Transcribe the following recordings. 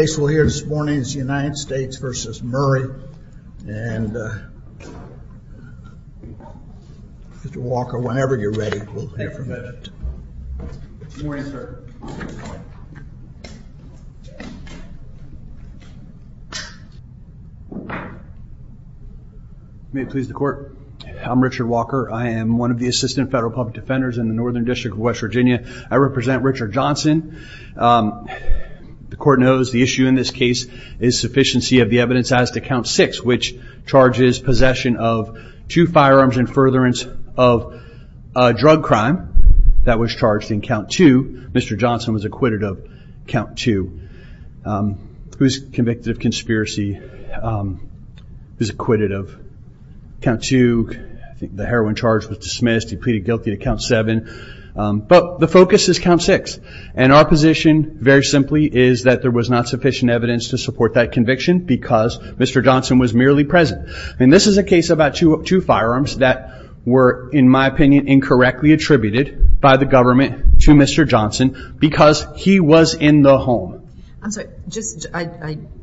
The case we'll hear this morning is United States v. Murray and Mr. Walker, whenever you're ready, we'll hear from him. Good morning, sir. May it please the Court. I'm Richard Walker. I am one of the Assistant Federal Public Defenders in the Northern District of West Virginia. I represent Richard Johnson. The Court knows the issue in this case is sufficiency of the evidence as to Count 6, which charges possession of two firearms and furtherance of a drug crime that was charged in Count 2. Mr. Johnson was acquitted of Count 2. He was convicted of conspiracy. He was acquitted of Count 2. The heroin charge was dismissed. He pleaded guilty to Count 7. But the focus is Count 6. And our position, very simply, is that there was not sufficient evidence to support that conviction because Mr. Johnson was merely present. And this is a case about two firearms that were, in my opinion, incorrectly attributed by the government to Mr. Johnson because he was in the home. I'm sorry. I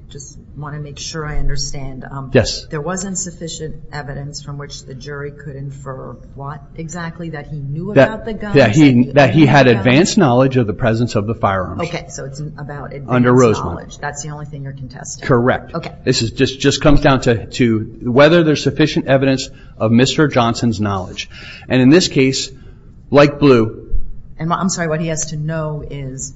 just want to make sure I understand. Yes. There wasn't sufficient evidence from which the jury could infer what exactly that he knew about the guns? That he had advanced knowledge of the presence of the firearms. Okay. So it's about advanced knowledge. Under Rosemont. That's the only thing you're contesting. Correct. Okay. This just comes down to whether there's sufficient evidence of Mr. Johnson's knowledge. And in this case, like Blue... And I'm sorry, what he has to know is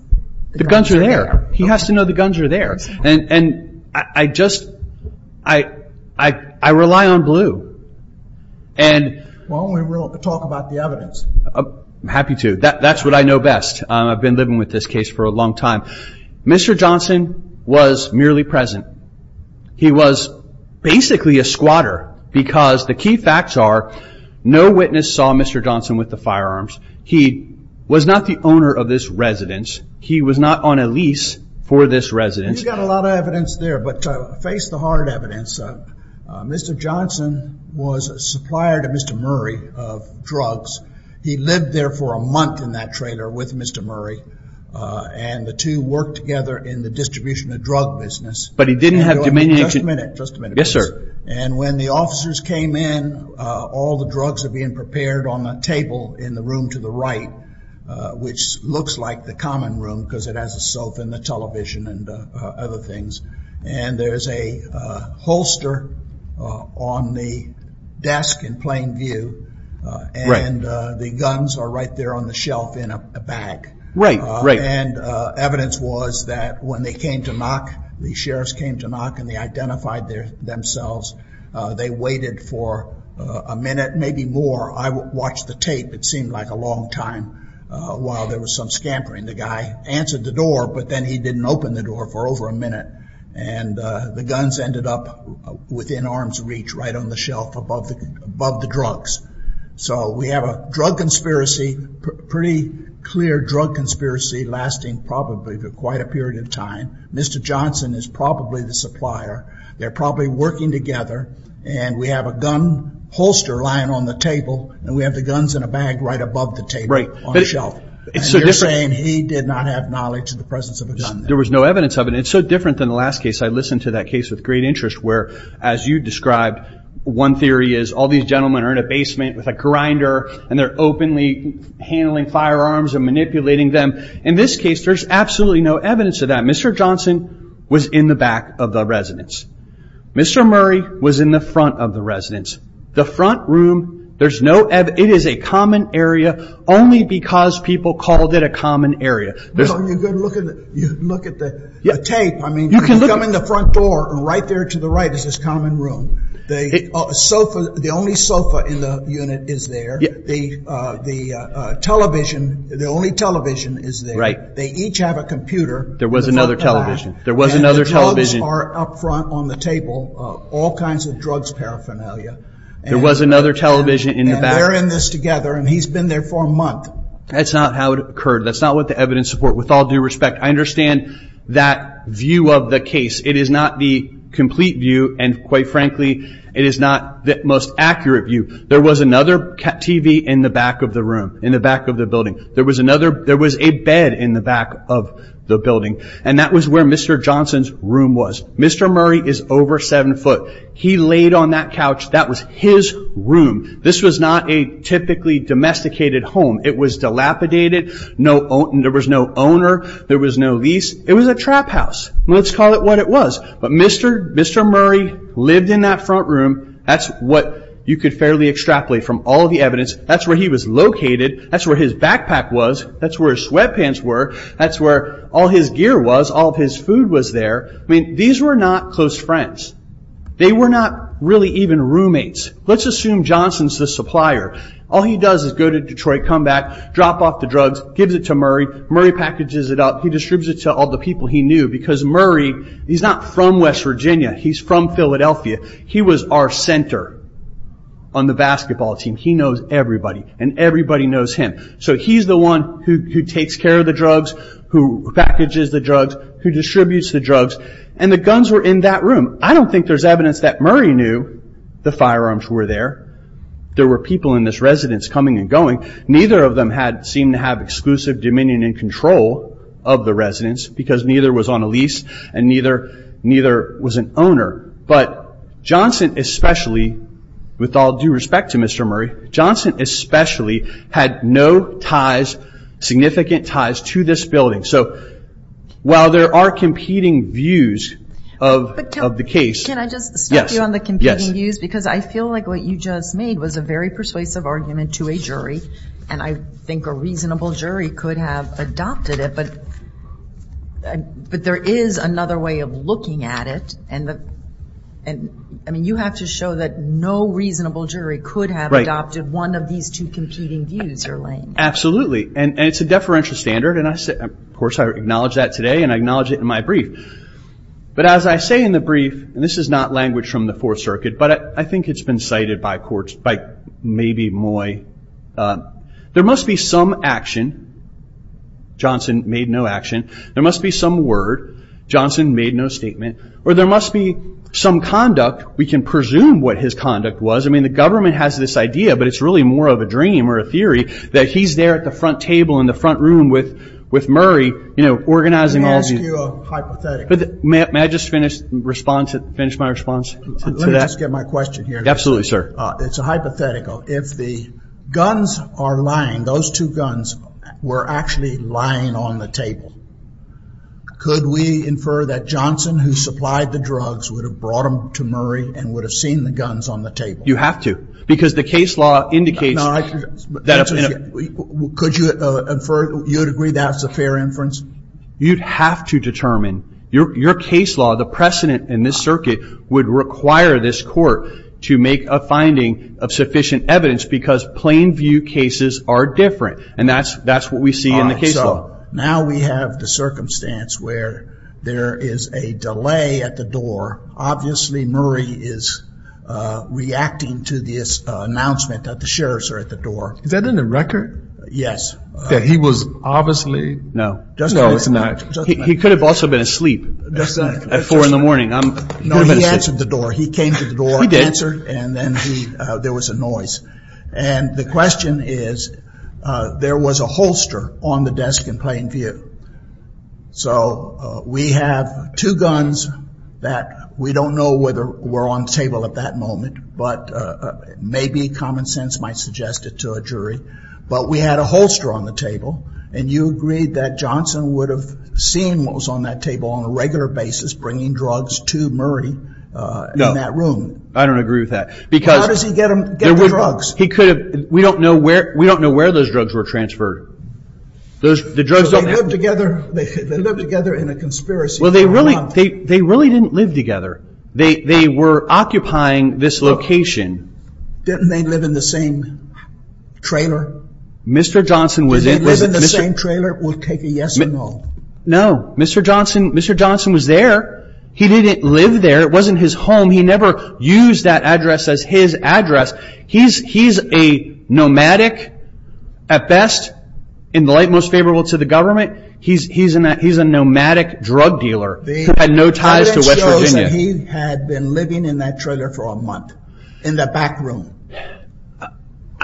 the guns are there. The guns are there. He has to know the guns are there. And I just, I rely on Blue. Why don't we talk about the evidence? I'm happy to. That's what I know best. I've been living with this case for a long time. Mr. Johnson was merely present. He was basically a squatter because the key facts are no witness saw Mr. Johnson with the firearms. He was not the owner of this residence. He was not on a lease for this residence. You've got a lot of evidence there, but face the hard evidence. Mr. Johnson was a supplier to Mr. Murray of drugs. He lived there for a month in that trailer with Mr. Murray. And the two worked together in the distribution of drug business. But he didn't have dominion. Just a minute. Just a minute. Yes, sir. And when the officers came in, all the drugs are being prepared on the table in the room to the right, which looks like the common room because it has a sofa and the television and other things. And there's a holster on the desk in plain view. And the guns are right there on the shelf in a bag. And evidence was that when they came to knock, the sheriffs came to knock and they identified themselves. They waited for a minute, maybe more. I watched the tape. It seemed like a long time while there was some scampering. The guy answered the door, but then he didn't open the door for over a minute. And the guns ended up within arm's reach right on the shelf above the drugs. So we have a drug conspiracy, pretty clear drug conspiracy lasting probably for quite a period of time. Mr. Johnson is probably the supplier. They're probably working together. And we have a gun holster lying on the table. And we have the guns in a bag right above the table on the shelf. Right. And you're saying he did not have knowledge of the presence of a gun there. There was no evidence of it. It's so different than the last case. I listened to that case with great interest where, as you described, one theory is all these gentlemen are in a basement with a grinder and they're openly handling firearms and manipulating them. In this case, there's absolutely no evidence of that. Mr. Johnson was in the back of the residence. Mr. Murray was in the front of the residence. The front room, there's no evidence. It is a common area only because people called it a common area. You could look at the tape. You come in the front door and right there to the right is this common room. The only sofa in the unit is there. The only television is there. They each have a computer. There was another television. There was another television. And the drugs are up front on the table. All kinds of drugs paraphernalia. There was another television in the back. And they're in this together and he's been there for a month. That's not how it occurred. That's not what the evidence support. With all due respect, I understand that view of the case. It is not the complete view and, quite frankly, it is not the most accurate view. There was another TV in the back of the room, in the back of the building. And that was where Mr. Johnson's room was. Mr. Murray is over 7 foot. He laid on that couch. That was his room. This was not a typically domesticated home. It was dilapidated. There was no owner. There was no lease. It was a trap house. Let's call it what it was. But Mr. Murray lived in that front room. That's what you could fairly extrapolate from all the evidence. That's where he was located. That's where his backpack was. That's where his sweatpants were. That's where all of his gear was. All of his food was there. These were not close friends. They were not really even roommates. Let's assume Johnson's the supplier. All he does is go to Detroit, come back, drop off the drugs, gives it to Murray. Murray packages it up. He distributes it to all the people he knew because Murray, he's not from West Virginia. He's from Philadelphia. He was our center on the basketball team. He knows everybody. Everybody knows him. He's the one who takes care of the drugs, who packages the drugs, who distributes the drugs. The guns were in that room. I don't think there's evidence that Murray knew the firearms were there. There were people in this residence coming and going. Neither of them seemed to have exclusive dominion and control of the residence because neither was on a lease and neither was an owner. But Johnson especially, with all due respect to Mr. Murray, Johnson especially had no ties, significant ties to this building. So while there are competing views of the case- But can I just stop you on the competing views? Yes. Because I feel like what you just made was a very persuasive argument to a jury and I think a reasonable jury could have adopted it. But there is another way of looking at it. I mean you have to show that no reasonable jury could have adopted one of these two competing views you're laying. Absolutely. And it's a deferential standard and of course I acknowledge that today and I acknowledge it in my brief. But as I say in the brief, and this is not language from the Fourth Circuit, but I think it's been cited by courts, by maybe Moy. There must be some action. Johnson made no action. There must be some conduct. We can presume what his conduct was. I mean the government has this idea, but it's really more of a dream or a theory that he's there at the front table in the front room with Murray, organizing all these- Let me ask you a hypothetical. May I just finish my response to that? Let me just get my question here. Absolutely sir. It's a hypothetical. If the guns are lying, those two guns were actually lying on the table. Could we infer that Johnson, who supplied the drugs, would have brought them to Murray and would have seen the guns on the table? You have to. Because the case law indicates- No, I- Could you infer, you'd agree that's a fair inference? You'd have to determine. Your case law, the precedent in this circuit, would require this court to make a finding of sufficient evidence because plain view cases are different. And that's what we see in the case law. Now we have the circumstance where there is a delay at the door. Obviously, Murray is reacting to this announcement that the sheriffs are at the door. Is that in the record? Yes. That he was obviously- No. No, it's not. He could have also been asleep at four in the morning. No, he answered the door. He came to the door, answered, and then there was a noise. And the question is, there was a holster on the desk in plain view. So we have two guns that we don't know whether were on the table at that moment, but maybe common sense might suggest it to a jury. But we had a holster on the table, and you agreed that Johnson would have seen what was on that table on a regular basis, bringing drugs to Murray in that room. No, I don't agree with that. Because- How does he get the drugs? He could have- We don't know where those drugs were transferred. The drugs don't- They lived together in a conspiracy. Well, they really didn't live together. They were occupying this location. Didn't they live in the same trailer? Mr. Johnson was- Did they live in the same trailer? We'll take a yes or no. No. Mr. Johnson was there. He didn't live there. It wasn't his home. He never used that address as his address. He's a nomadic, at best, in the light most favorable to the government. He's a nomadic drug dealer who had no ties to West Virginia. He had been living in that trailer for a month, in the back room.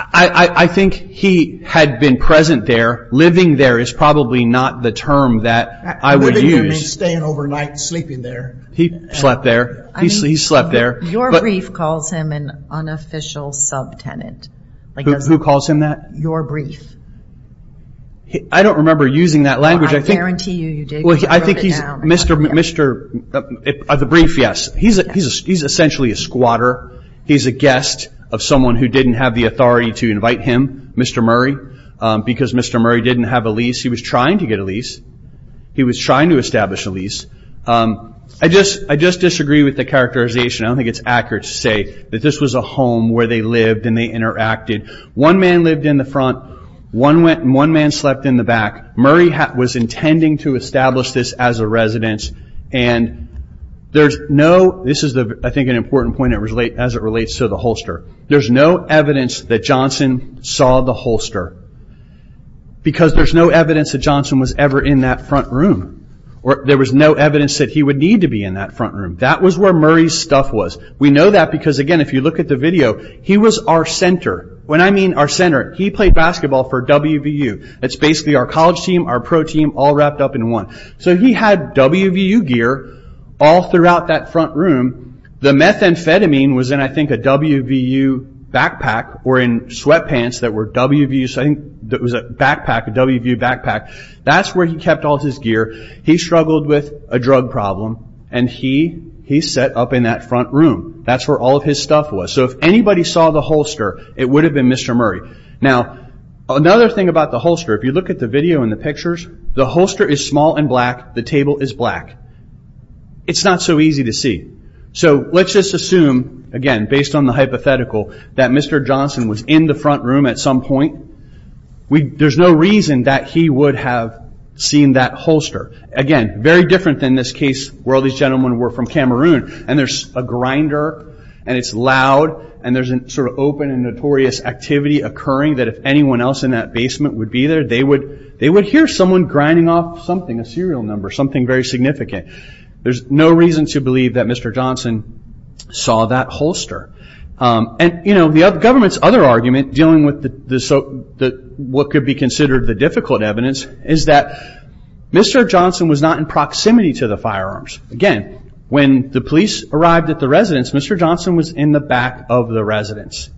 I think he had been present there. Living there is probably not the term that I would use. Staying overnight, sleeping there. He slept there. He slept there. Your brief calls him an unofficial sub-tenant. Who calls him that? Your brief. I don't remember using that language. I guarantee you, you did when you wrote it down. I think he's- The brief, yes. He's essentially a squatter. He's a guest of someone who didn't have the authority to invite him, Mr. Murray, because Mr. Murray didn't have a lease. He was trying to get a lease. He was trying to establish a lease. I just disagree with the characterization. I don't think it's accurate to say that this was a home where they lived and they interacted. One man lived in the front. One man slept in the back. Murray was intending to establish this as a residence. This is, I think, an important point as it relates to the holster. There's no evidence that Johnson saw the holster, because there's no evidence that Johnson was ever in that front room. There was no evidence that he would need to be in that front room. That was where Murray's stuff was. We know that because, again, if you look at the video, he was our center. When I mean our center, he played basketball for WVU. That's basically our college team, our pro team, all wrapped up in one. He had WVU gear all throughout that front room. The methamphetamine was in, I think, a WVU backpack or in sweatpants that were WVU. I think it was a backpack, a WVU backpack. That's where he kept all his gear. He struggled with a drug problem, and he sat up in that front room. That's where all of his stuff was. If anybody saw the holster, it would have been Mr. Murray. Another thing about the holster, if you look at the video and the pictures, the holster is small and black. The table is black. It's not so easy to see. Let's just assume, again, based on the hypothetical, that Mr. Johnson was in the front room at some point. There's no reason that he would have seen that holster. Again, very different than this case where all these gentlemen were from Cameroon. There's a grinder, and it's loud, and there's an open and notorious activity occurring that if anyone else in that basement would be there, they would hear someone grinding off something, a serial number, something very significant. There's no reason to believe that Mr. Johnson saw that holster. And the government's other argument dealing with what could be considered the difficult evidence is that Mr. Johnson was not in proximity to the firearms. Again, when the police arrived at the residence, Mr. Johnson was in the back of the residence.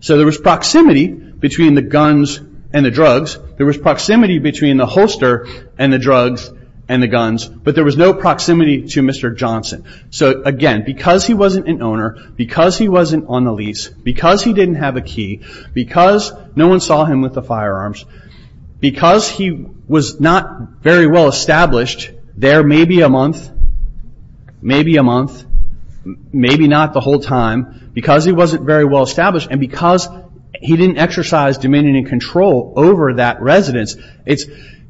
So there was proximity between the guns and the drugs. There was proximity between the holster and the drugs and the guns, but there was no proximity to Mr. Johnson. So again, because he wasn't an owner, because he wasn't on the lease, because he didn't have a key, because no one saw him with the firearms, because he was not very well established, there may be a month, maybe a month, maybe not the whole time, because he wasn't very well established, and because he didn't exercise dominion and control over that residence, it's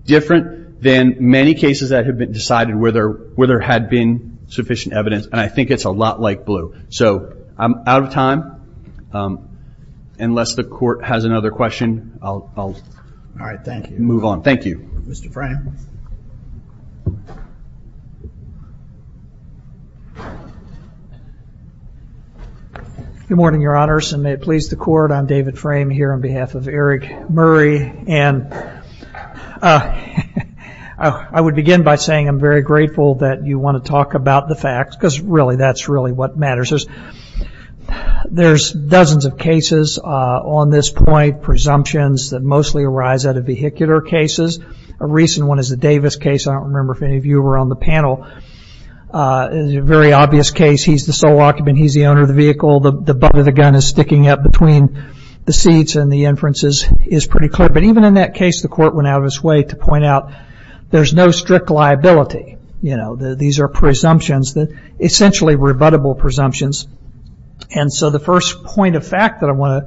different than many cases that have been decided where there had been sufficient evidence. And I think it's a lot like Blue. So I'm out of time. Unless the court has another question, I'll move on. Thank you. Mr. Frame. Good morning, your honors, and may it please the court. I'm David Frame here on behalf of Eric Murray. And I would begin by saying I'm very grateful that you want to talk about the facts, because really, that's really what matters. There's dozens of cases on this point, presumptions that mostly arise out of vehicular cases. A recent one is the Davis case. I don't remember if any of you were on the panel. It's a very obvious case. He's the sole occupant. He's the owner of the vehicle. The butt of the gun is sticking up between the seats, and the inference is pretty clear. But even in that case, the court went out of its way to point out there's no strict liability. These are presumptions, essentially rebuttable presumptions. And so the first point of fact that I want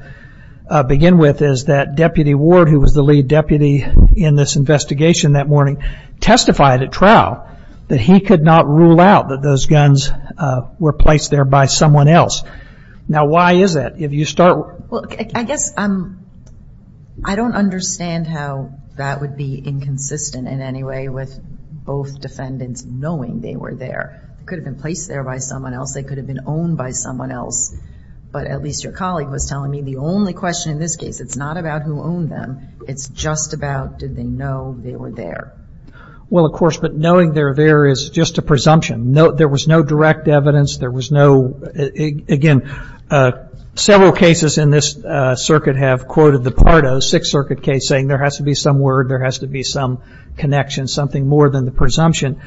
to begin with is that Deputy Ward, who was the lead deputy in this investigation that morning, testified at trial that he could not rule out that those guns were placed there by someone else. Now, why is that? Well, I guess I don't understand how that would be inconsistent in any way with both defendants knowing they were there. They could have been placed there by someone else. They could have been owned by someone else. But at least your colleague was telling me the only question in this case, it's not about who owned them. It's just about did they know they were there. Well, of course, but knowing they're there is just a presumption. There was no direct evidence. There was no, again, several cases in this circuit have quoted the Pardo Sixth Circuit case saying there has to be some word. There has to be some connection, something more than the presumption.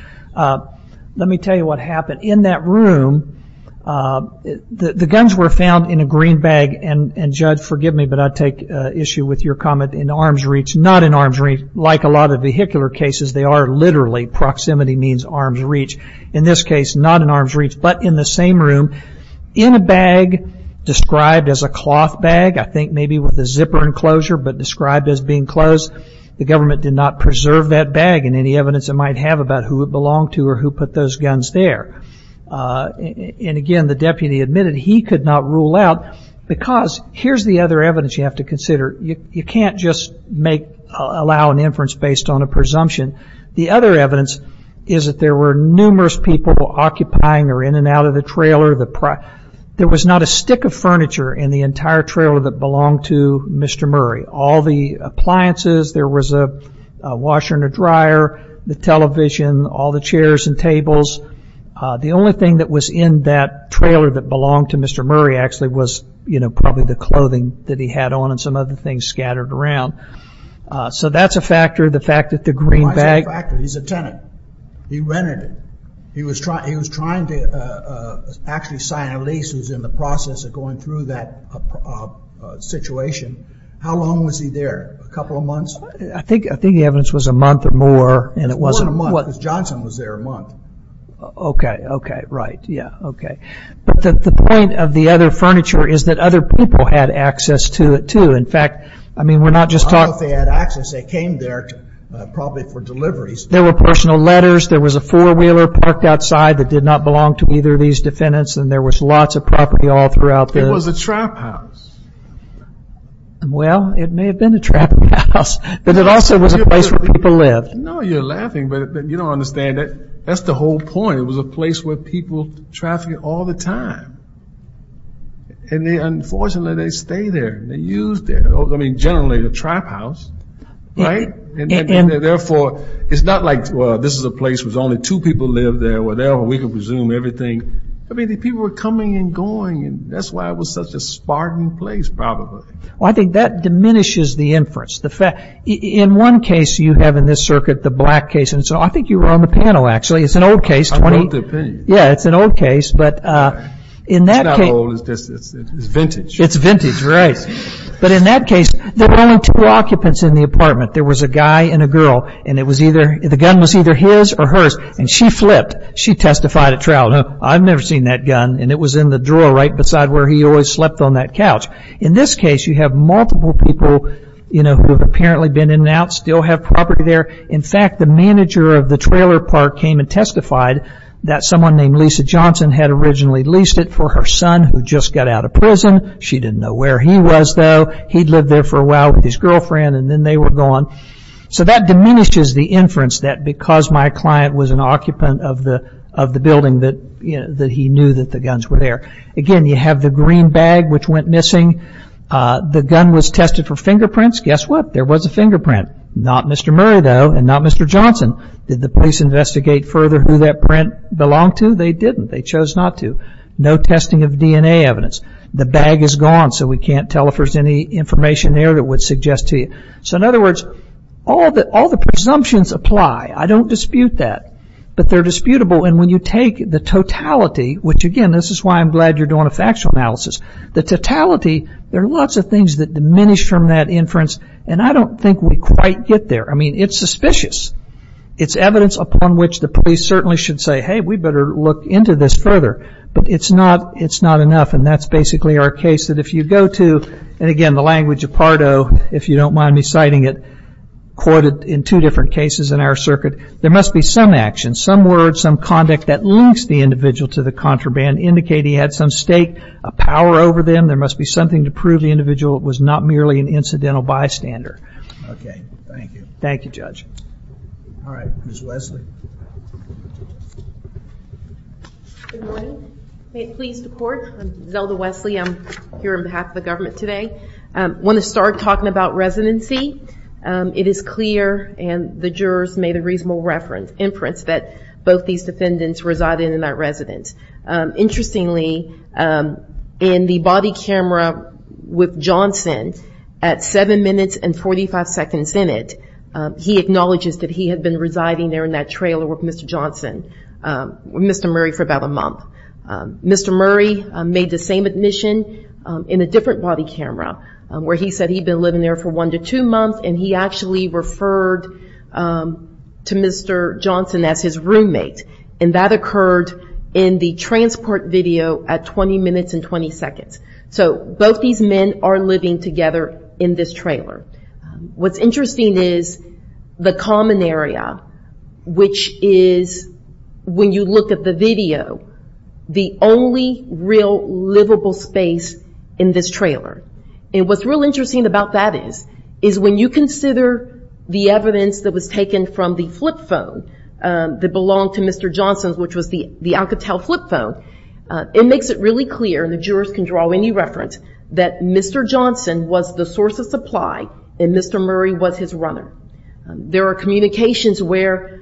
Let me tell you what happened. In that room, the guns were found in a green bag. And Judge, forgive me, but I take issue with your comment in arm's reach. Not in arm's reach. Like a lot of vehicular cases, they are literally, proximity means arm's reach. In this case, not in arm's reach, but in the same room. In a bag described as a cloth bag, I think maybe with a zipper enclosure, but described as being closed. The government did not preserve that bag and any evidence it might have about who it belonged to or who put those guns there. And again, the deputy admitted he could not rule out because here's the other evidence you have to consider. You can't just make, allow an inference based on a presumption. The other evidence is that there were numerous people occupying or in and out of the trailer. There was not a stick of furniture in the entire trailer that belonged to Mr. Murray. All the appliances, there was a washer and a dryer, the television, all the chairs and tables. The only thing that was in that trailer that belonged to Mr. Murray actually was probably the clothing that he had on and some other things scattered around. So that's a factor. The fact that the green bag- That's a factor. He's a tenant. He rented it. He was trying to actually sign a lease. He was in the process of going through that situation. How long was he there? A couple of months? I think the evidence was a month or more. More than a month because Johnson was there a month. Okay, okay, right. Yeah, okay. But the point of the other furniture is that other people had access to it too. In fact, I mean, we're not just talking- I don't know if they had access. They came there probably for deliveries. There were personal letters. There was a four-wheeler parked outside that did not belong to either of these defendants, and there was lots of property all throughout the- It was a trap house. Well, it may have been a trap house, but it also was a place where people lived. No, you're laughing, but you don't understand that. That's the whole point. It was a place where people trafficked all the time. And unfortunately, they stay there. They used it. I mean, generally a trap house, right? Therefore, it's not like, well, this is a place where only two people live there or whatever. We can presume everything. I mean, the people were coming and going, and that's why it was such a spartan place probably. Well, I think that diminishes the inference. In one case you have in this circuit, the black case, and so I think you were on the panel actually. It's an old case. I wrote the opinion. Yeah, it's an old case, but in that case- It's not old. It's vintage. It's vintage, right. But in that case, there were only two occupants in the apartment. There was a guy and a girl, and the gun was either his or hers, and she flipped. She testified at trial, I've never seen that gun, and it was in the drawer right beside where he always slept on that couch. In this case, you have multiple people who have apparently been in and out, still have property there. In fact, the manager of the trailer park came and testified that someone named Lisa Johnson had originally leased it for her son who just got out of prison. She didn't know where he was, though. He'd lived there for a while with his girlfriend, and then they were gone. So that diminishes the inference that because my client was an occupant of the building that he knew that the guns were there. Again, you have the green bag which went missing. The gun was tested for fingerprints. Guess what? There was a fingerprint. Not Mr. Murray, though, and not Mr. Johnson. Did the police investigate further who that print belonged to? They didn't. They chose not to. No testing of DNA evidence. The bag is gone, so we can't tell if there's any information there that would suggest to you. So in other words, all the presumptions apply. I don't dispute that, but they're disputable. And when you take the totality, which again, this is why I'm glad you're doing a factual analysis. The totality, there are lots of things that diminish from that inference, and I don't think we quite get there. I mean, it's suspicious. It's evidence upon which the police certainly should say, hey, we better look into this further. But it's not enough, and that's basically our case that if you go to, and again, the language of Pardo, if you don't mind me citing it, quoted in two different cases in our circuit, there must be some action, some word, some conduct that links the individual to the contraband, indicating he had some stake, a power over them. There must be something to prove the individual was not merely an incidental bystander. OK. Thank you. Thank you, Judge. All right. Ms. Wesley. Good morning. May it please the court. I'm Zelda Wesley. I'm here on behalf of the government today. I want to start talking about residency. It is clear, and the jurors made a reasonable reference, inference, that both these defendants resided in that residence. Interestingly, in the body camera with Johnson, at seven minutes and 45 seconds in it, he acknowledges that he had been residing there in that trailer with Mr. Johnson, Mr. Murray, for about a month. Mr. Murray made the same admission in a different body camera, where he said he'd been living there for one to two months, and he actually referred to Mr. Johnson as his roommate. And that occurred in the transport video at 20 minutes and 20 seconds. So both these men are living together in this trailer. What's interesting is the common area, which is when you look at the video, the only real livable space in this trailer. And what's real interesting about that is, is when you consider the evidence that was taken from the flip phone that belonged to Mr. Johnson, which was the Alcatel flip phone, it makes it really clear, and the jurors can draw any reference, that Mr. Johnson was the source of supply, and Mr. Murray was his runner. There are communications where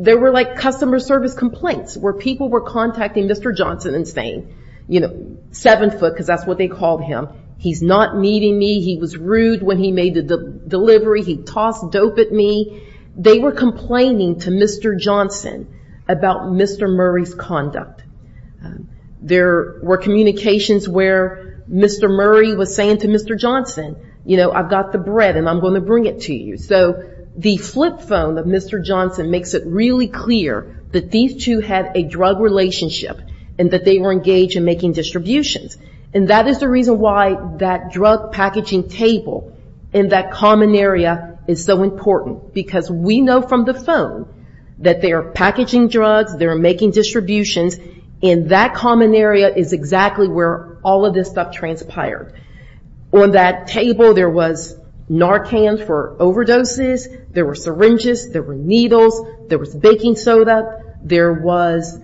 there were like customer service complaints, where people were contacting Mr. Johnson and saying, you know, seven foot, because that's what they called him. He's not meeting me. He was rude when he made the delivery. He tossed dope at me. They were complaining to Mr. Johnson about Mr. Murray's conduct. There were communications where Mr. Murray was saying to Mr. Johnson, you know, I've got the bread, and I'm going to bring it to you. So the flip phone of Mr. Johnson makes it really clear that these two had a drug relationship, and that they were engaged in making distributions, and that is the reason why that drug packaging table in that common area is so important, because we know from the phone that they are packaging drugs, they're making distributions, and that common area is exactly where all of this stuff transpired. On that table, there was Narcan for overdoses. There were syringes. There were needles. There was baking soda. There was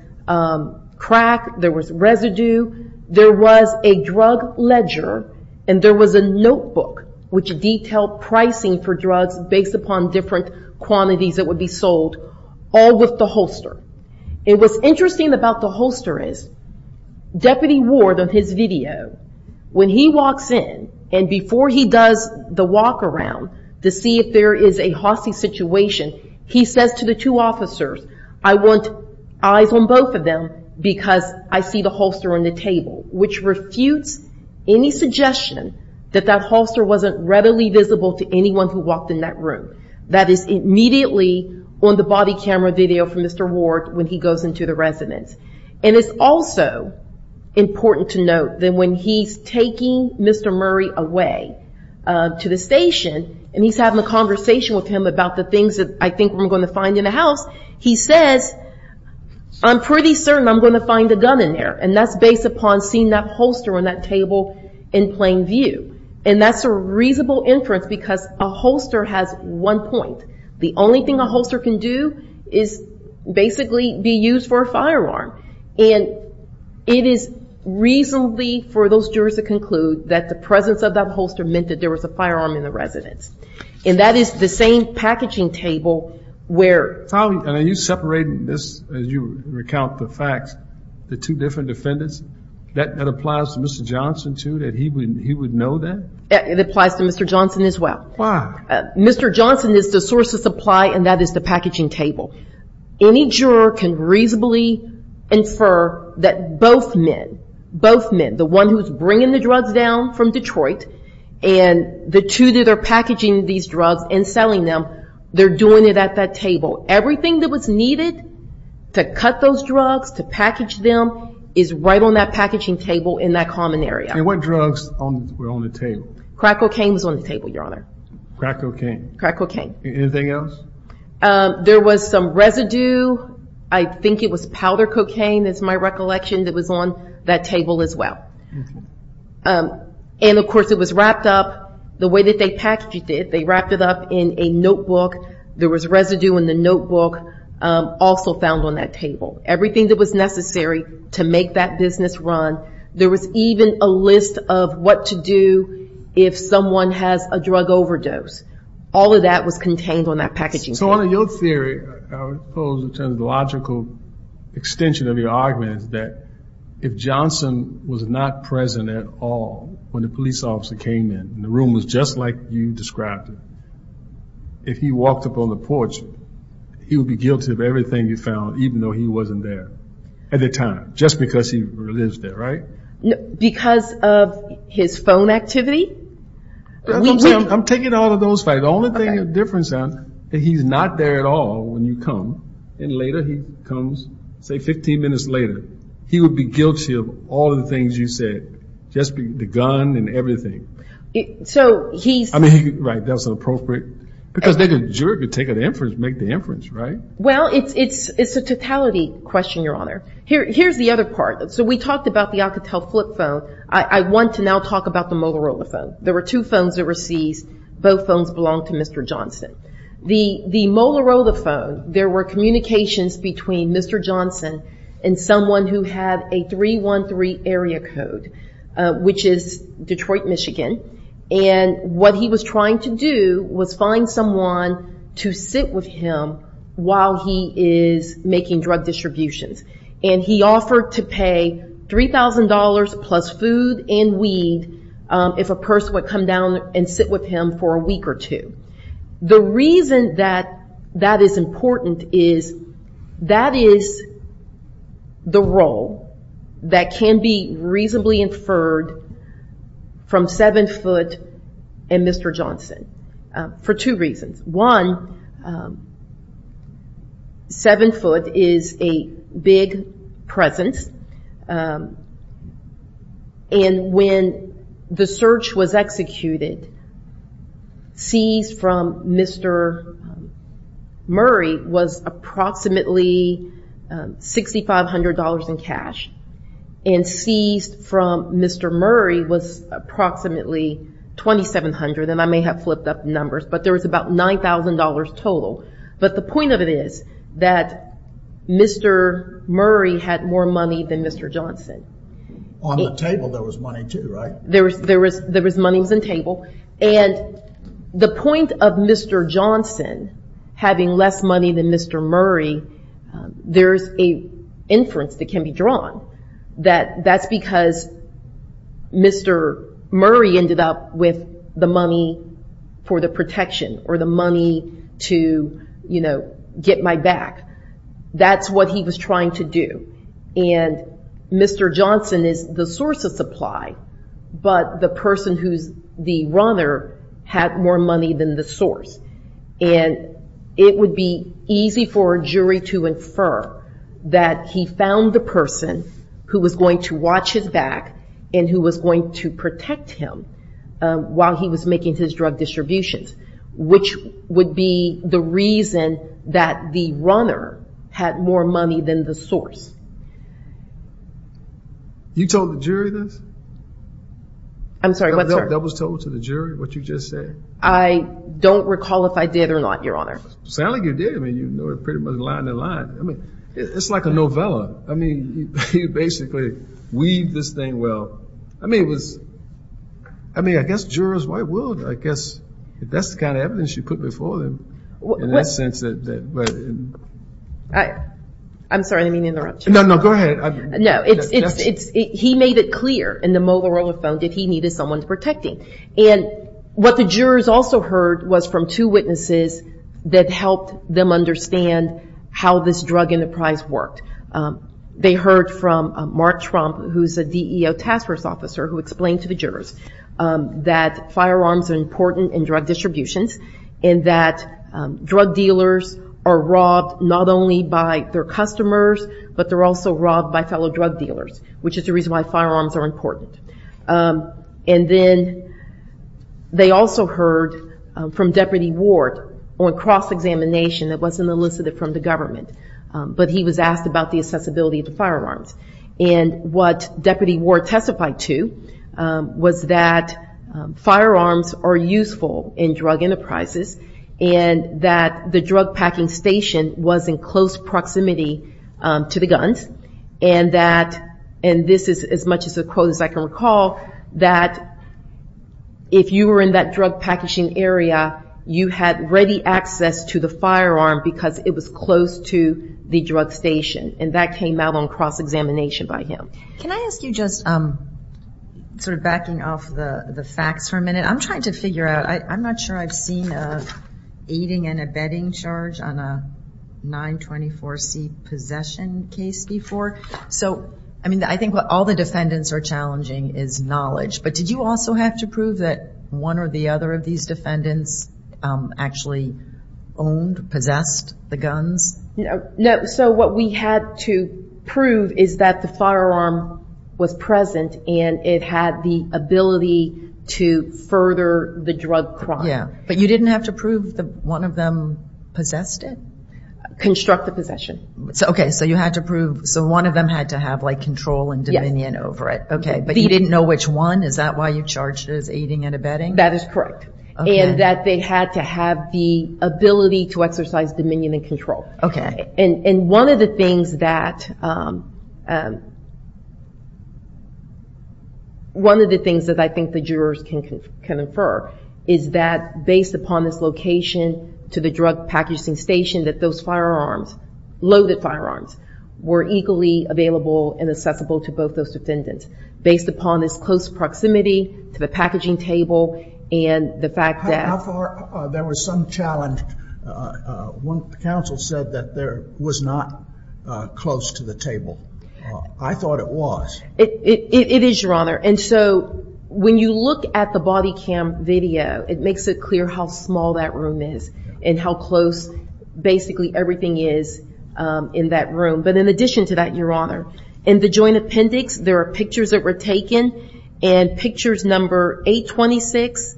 crack. There was residue. There was a drug ledger, and there was a notebook which detailed pricing for drugs based upon different quantities that would be sold, all with the holster. It was interesting about the holster is, Deputy Ward, on his video, when he walks in, and before he does the walk around to see if there is a hostage situation, he says to the two officers, I want eyes on both of them, because I see the holster on the table, which refutes any suggestion that that holster wasn't readily visible to anyone who walked in that room. That is immediately on the body camera video from Mr. Ward when he goes into the residence. And it's also important to note that when he's taking Mr. Murray away to the station, and he's having a conversation with him about the things that I think we're going to find in the house, he says, I'm pretty certain I'm going to find a gun in there. And that's based upon seeing that holster on that table in plain view. And that's a reasonable inference because a holster has one point. The only thing a holster can do is basically be used for a firearm. And it is reasonably for those jurors to conclude that the presence of that holster meant that there was a firearm in the residence. And that is the same packaging table where- And are you separating this, as you recount the facts, the two different defendants? That applies to Mr. Johnson too, that he would know that? It applies to Mr. Johnson as well. Why? Mr. Johnson is the source of supply, and that is the packaging table. Any juror can reasonably infer that both men, both men, the one who's bringing the drugs down from Detroit, and the two that are packaging these drugs and selling them, they're doing it at that table. Everything that was needed to cut those drugs, to package them, is right on that packaging table in that common area. And what drugs were on the table? Crack cocaine was on the table, Your Honor. Crack cocaine? Crack cocaine. Anything else? There was some residue, I think it was powder cocaine, is my recollection, that was on that table as well. And of course it was wrapped up the way that they packaged it. They wrapped it up in a notebook. There was residue in the notebook also found on that table. Everything that was necessary to make that business run. There was even a list of what to do if someone has a drug overdose. All of that was contained on that packaging table. So on your theory, I would suppose in terms of the logical extension of your argument, that if Johnson was not present at all when the police officer came in, and the room was just like you described it, if he walked up on the porch, he would be guilty of everything he found, even though he wasn't there at the time. Just because he lives there, right? Because of his phone activity? I'm taking all of those facts. The only thing that's different is that he's not there at all when you come. And later he comes, say 15 minutes later, he would be guilty of all of the things you said. Just the gun and everything. So he's... I mean, right. That's appropriate. Because they could take an inference, make the inference, right? Well, it's a totality question, Your Honor. Here's the other part. So we talked about the Alcatel flip phone. I want to now talk about the Molarola phone. There were two phones that were seized. Both phones belonged to Mr. Johnson. The Molarola phone, there were communications between Mr. Johnson and someone who had a 313 area code, which is Detroit, Michigan. And what he was trying to do was find someone to sit with him while he is making drug distributions. And he offered to pay $3,000 plus food and weed if a person would come down and sit with him for a week or two. The reason that that is important is that is the role that can be reasonably inferred from Seven Foot and Mr. Johnson for two reasons. One, Seven Foot is a big presence. And when the search was executed, seized from Mr. Murray was approximately $6,500 in cash. And seized from Mr. Murray was approximately $2,700. And I may have flipped up numbers, but there was about $9,000 total. But the point of it is that Mr. Murray had more money than Mr. On the table, there was money too, right? There was money on the table. And the point of Mr. Johnson having less money than Mr. Murray, there's an inference that can be drawn that that's because Mr. Murray ended up with the money for the protection or the to get my back. That's what he was trying to do. And Mr. Johnson is the source of supply. But the person who's the runner had more money than the source. And it would be easy for a jury to infer that he found the person who was going to watch his back and who was going to protect him while he was making his drug distributions. Which would be the reason that the runner had more money than the source. You told the jury this? I'm sorry, what? That was told to the jury, what you just said? I don't recall if I did or not, Your Honor. Sound like you did. I mean, you know, pretty much line in line. I mean, it's like a novella. I mean, you basically weave this thing. Well, I mean, it was. I mean, I guess jurors, why would? I guess that's the kind of evidence you put before them. In that sense. I'm sorry, I didn't mean to interrupt you. No, no, go ahead. He made it clear in the mobile roller phone that he needed someone to protect him. And what the jurors also heard was from two witnesses that helped them understand how this drug enterprise worked. They heard from Mark Trump, who's a DEO task force officer, who explained to the jurors that firearms are important in drug distributions, and that drug dealers are robbed not only by their customers, but they're also robbed by fellow drug dealers, which is the reason why firearms are important. And then they also heard from Deputy Ward on cross examination that wasn't elicited from the government. But he was asked about the accessibility of the firearms. And what Deputy Ward testified to was that firearms are useful in drug enterprises, and that the drug packing station was in close proximity to the guns. And that, and this is as much as a quote as I can recall, that if you were in that drug packaging area, you had ready access to the firearm because it was close to the drug station. And that came out on cross examination by him. Can I ask you just sort of backing off the facts for a I'm trying to figure out, I'm not sure I've seen a aiding and abetting charge on a 924C possession case before. So I mean, I think what all the defendants are challenging is knowledge. But did you also have to prove that one or the other of these defendants actually owned, possessed the guns? No. So what we had to prove is that the firearm was present and it had the ability to further the drug crime. Yeah. But you didn't have to prove that one of them possessed it? Construct the possession. Okay. So you had to prove, so one of them had to have like control and dominion over it. Okay. But you didn't know which one. Is that why you charged as aiding and abetting? That is correct. And that they had to have the ability to exercise dominion and control. Okay. And one of the things that I think the jurors can infer is that based upon this location to the drug packaging station that those firearms, loaded firearms, were equally available and accessible to both those defendants. Based upon this close proximity to the packaging table and the fact that- How far, there was some challenge. One council said that there was not close to the table. I thought it was. It is, your honor. And so when you look at the body cam video, it makes it clear how small that room is and how close basically everything is in that room. But in addition to that, your honor, in the joint appendix, there are pictures that were taken and pictures number 826,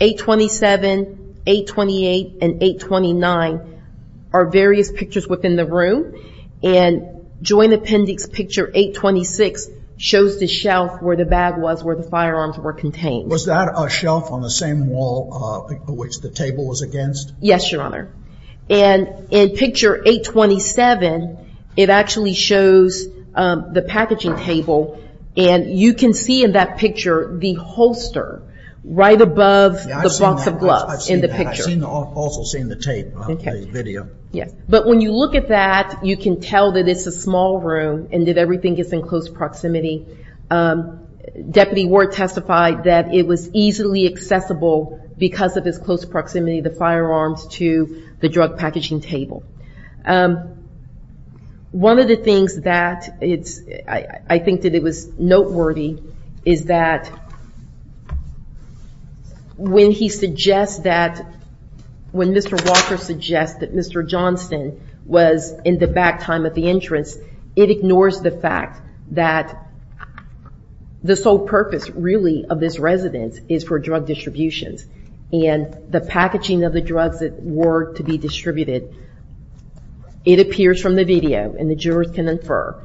827, 828, and 829 are various pictures within the room. And joint appendix picture 826 shows the shelf where the bag was where the firearms were contained. Was that a shelf on the same wall which the table was against? Yes, your honor. And in picture 827, it actually shows the packaging table. And you can see in that picture the holster right above the box of gloves in the picture. I've also seen the tape of the video. Yes. But when you look at that, you can tell that it's a small room and that everything is in close proximity. Deputy Ward testified that it was easily accessible because of its close proximity of the firearms to the drug packaging table. One of the things that I think that it was noteworthy is that when he suggests that, when Mr. Walker suggests that Mr. Johnston was in the back time of the entrance, it ignores the fact that the sole purpose really of this residence is for drug distributions. And the packaging of the drugs that were to be distributed it appears from the video, and the jurors can infer,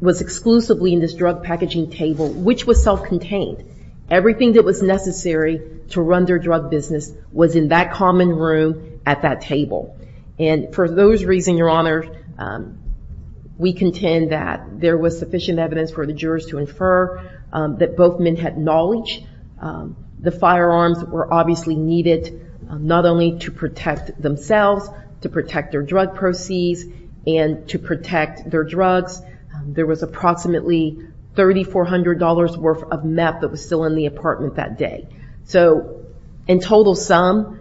was exclusively in this drug packaging table, which was self-contained. Everything that was necessary to run their drug business was in that common room at that table. And for those reasons, your honor, we contend that there was sufficient evidence for the jurors to infer that both men had knowledge. The firearms were obviously needed not only to protect themselves, to protect their drug proceeds, and to protect their drugs. There was approximately $3,400 worth of meth that was still in the apartment that day. So in total sum,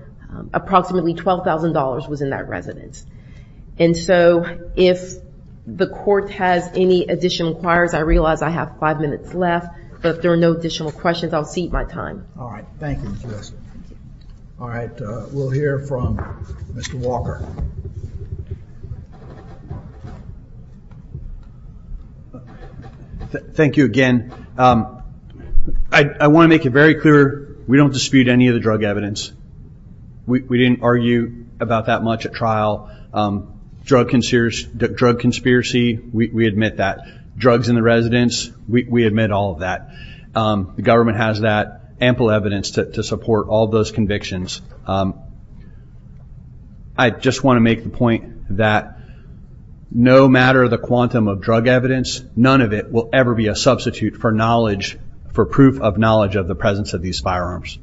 approximately $12,000 was in that residence. And so if the court has any additional inquiries, I realize I have five minutes left, but if there are no additional questions, I'll cede my time. All right. Thank you, Justice. All right. We'll hear from Mr. Walker. Thank you again. I want to make it very clear, we don't dispute any of the drug evidence. We didn't argue about that much at trial. Drug conspiracy, we admit that. Drugs in the residence, we admit all of that. The government has that ample evidence to support all those convictions. I just want to make the point that no matter the quantum of drug evidence, none of it will ever be a substitute for knowledge, for proof of knowledge of the presence of these firearms.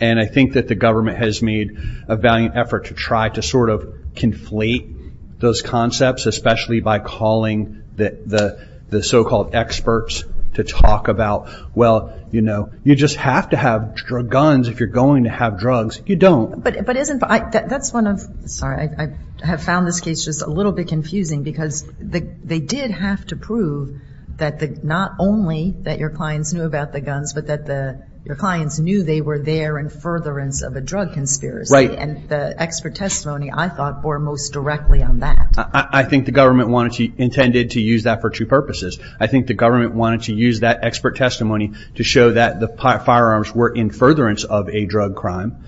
And I think that the government has made a valiant effort to try to sort of conflate those concepts, especially by calling the so-called experts to talk about, well, you just have to have guns if you're going to have drugs. You don't. But that's one of, sorry, I have found this case just a little bit confusing because they did have to prove that not only that your clients knew about the guns, but that your clients knew they were there in furtherance of a drug conspiracy. And the expert testimony, I thought, bore most directly on that. I think the government wanted to, intended to use that for two purposes. I think the government wanted to use that expert testimony to show that the firearms were in furtherance of a drug crime,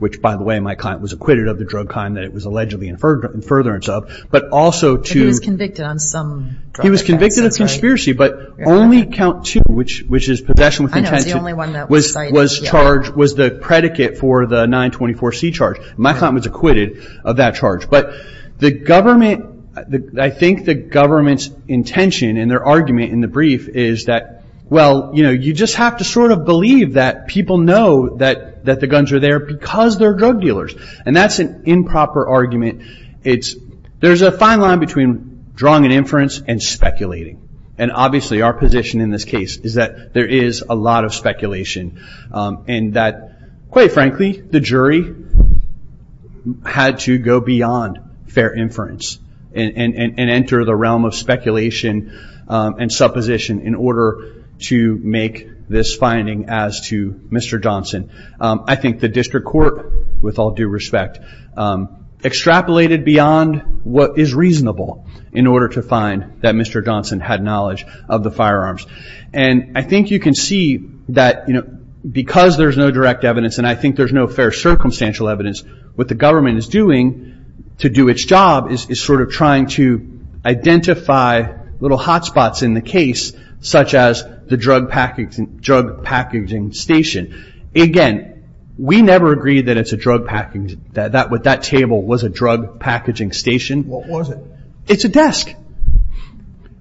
which, by the way, my client was acquitted of the drug crime that it was allegedly in furtherance of. But also to- He was convicted on some drug offenses, right? He was convicted of a conspiracy, but only count two, which is possession with intention- I know, it's the only one that was cited. Was charged, was the predicate for the 924C charge. My client was acquitted of that charge. But the government, I think the government's intention and their argument in the brief is that, well, you just have to sort of believe that people know that the guns are there because they're drug dealers. And that's an improper argument. There's a fine line between drawing an inference and speculating. And obviously our position in this case is that there is a lot of speculation and that, quite frankly, the jury had to go beyond fair inference and enter the realm of speculation and supposition in order to make this finding as to Mr. Johnson. I think the district court, with all due respect, extrapolated beyond what is reasonable in order to find that Mr. Johnson had knowledge of the firearms. And I think you can see that because there's no direct evidence and I think there's no fair circumstantial evidence, what the government is doing to do its job is sort of trying to identify little hot spots in the case, such as the drug packaging station. Again, we never agreed that it's a drug packaging, that table was a drug packaging station. What was it? It's a desk.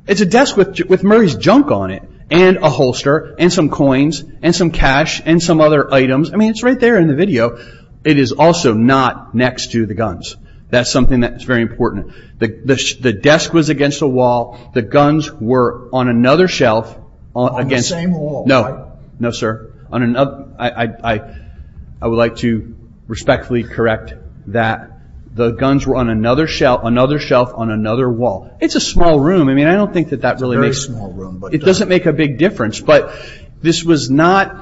It's a desk with Murray's junk on it and a holster and some coins and some cash and some other items. I mean, it's right there in the video. It is also not next to the guns. That's something that's very important. The desk was against a wall. The guns were on another shelf against... On the same wall, right? No, sir. I would like to respectfully correct that. The guns were on another shelf on another wall. It's a small room. I mean, I don't think that that really makes... Very small room, but... It doesn't make a big difference. This was not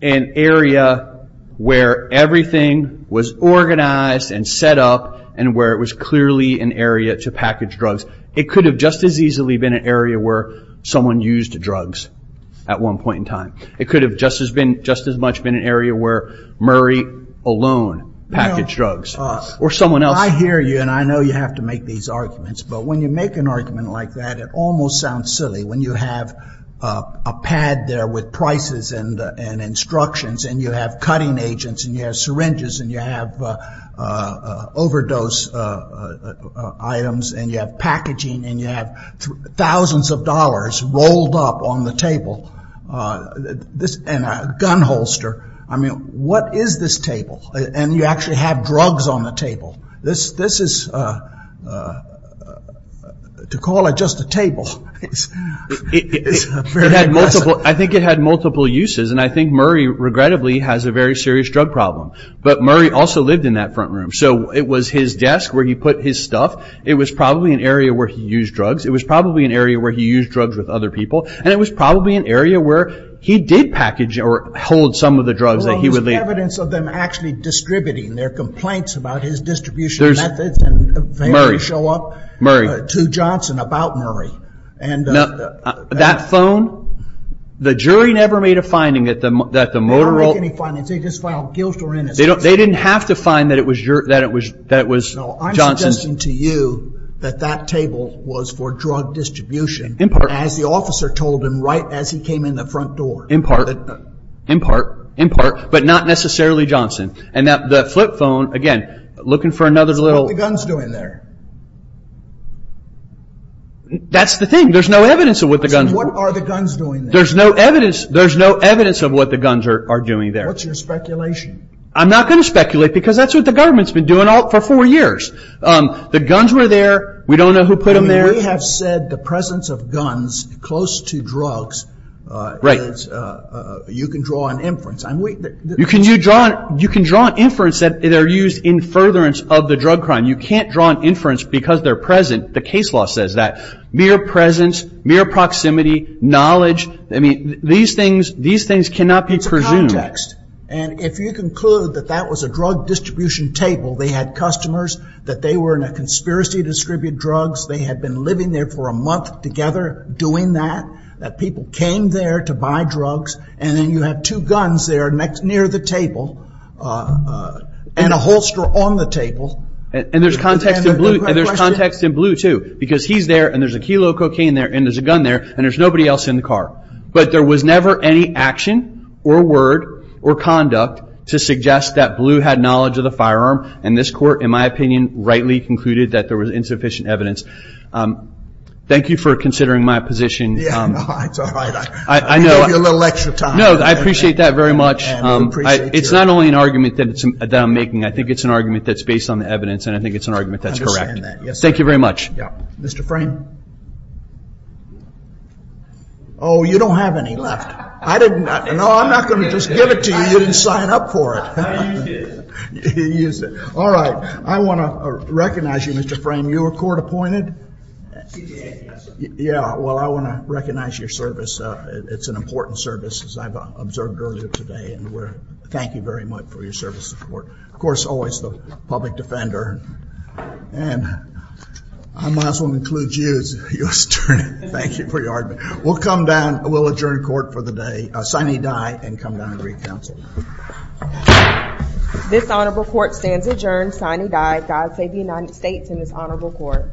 an area where everything was organized and set up and where it was clearly an area to package drugs. It could have just as easily been an area where someone used drugs at one point in time. It could have just as much been an area where Murray alone packaged drugs or someone else. I hear you and I know you have to make these arguments, but when you make an argument like that, it almost sounds silly when you have a pad there with prices and instructions and you have cutting agents and you have syringes and you have overdose items and you have packaging and you have thousands of dollars rolled up on the table and a gun holster. I mean, what is this table? And you actually have drugs on the table. This is to call it just a table. I think it had multiple uses and I think Murray, regrettably, has a very serious drug problem. But Murray also lived in that front room, so it was his desk where he put his stuff. It was probably an area where he used drugs. It was probably an area where he used drugs with other people. And it was probably an area where he did package or hold some of the drugs that he would leave. There's evidence of them actually distributing. There are complaints about his distribution methods and they never show up to Johnson about Murray. That phone? The jury never made a finding that the Motorola... They didn't make any findings. They just filed guilt or innocence. They didn't have to find that it was Johnson's. No, I'm suggesting to you that that table was for drug distribution, as the officer told him right as he came in the front door. In part, in part, in part, but not necessarily Johnson. And the flip phone, again, looking for another little... What are the guns doing there? That's the thing. There's no evidence of what the guns are doing. What are the guns doing there? There's no evidence. There's no evidence of what the guns are doing there. What's your speculation? I'm not going to speculate because that's what the government's been doing for four years. The guns were there. We don't know who put them there. We have said the presence of guns close to drugs, you can draw an inference. You can draw an inference that they're used in furtherance of the drug crime. You can't draw an inference because they're present. The case law says that. Mere presence, mere proximity, knowledge, these things cannot be presumed. It's a context. And if you conclude that that was a drug distribution table, they had customers, that they were in a conspiracy to distribute drugs, they had been living there for a month together doing that, that people came there to buy drugs, and then you have two guns there next near the table, and a holster on the table. And there's context in Blue, too, because he's there, and there's a kilo of cocaine there, and there's a gun there, and there's nobody else in the car. But there was never any action, or word, or conduct to suggest that Blue had knowledge of the firearm, and this court, in my opinion, rightly concluded that there was insufficient evidence. Thank you for considering my position. Yeah, it's all right. I know I appreciate that very much. It's not only an argument that I'm making. I think it's an argument that's based on the evidence, and I think it's an argument that's correct. Thank you very much. Yeah. Mr. Frame? Oh, you don't have any left. I didn't. No, I'm not going to just give it to you. You didn't sign up for it. All right. I want to recognize you, Mr. Frame. You were court appointed? Yeah. Well, I want to recognize your service. It's an important service, as I've observed earlier today, and thank you very much for your service to the court. Of course, always the public defender. And I might as well include you as your attorney. Thank you for your argument. We'll come down. We'll adjourn court for the day. Signee die, and come down and read counsel. This honorable court stands adjourned. Signee die. God save the United States and this honorable court. Thank you.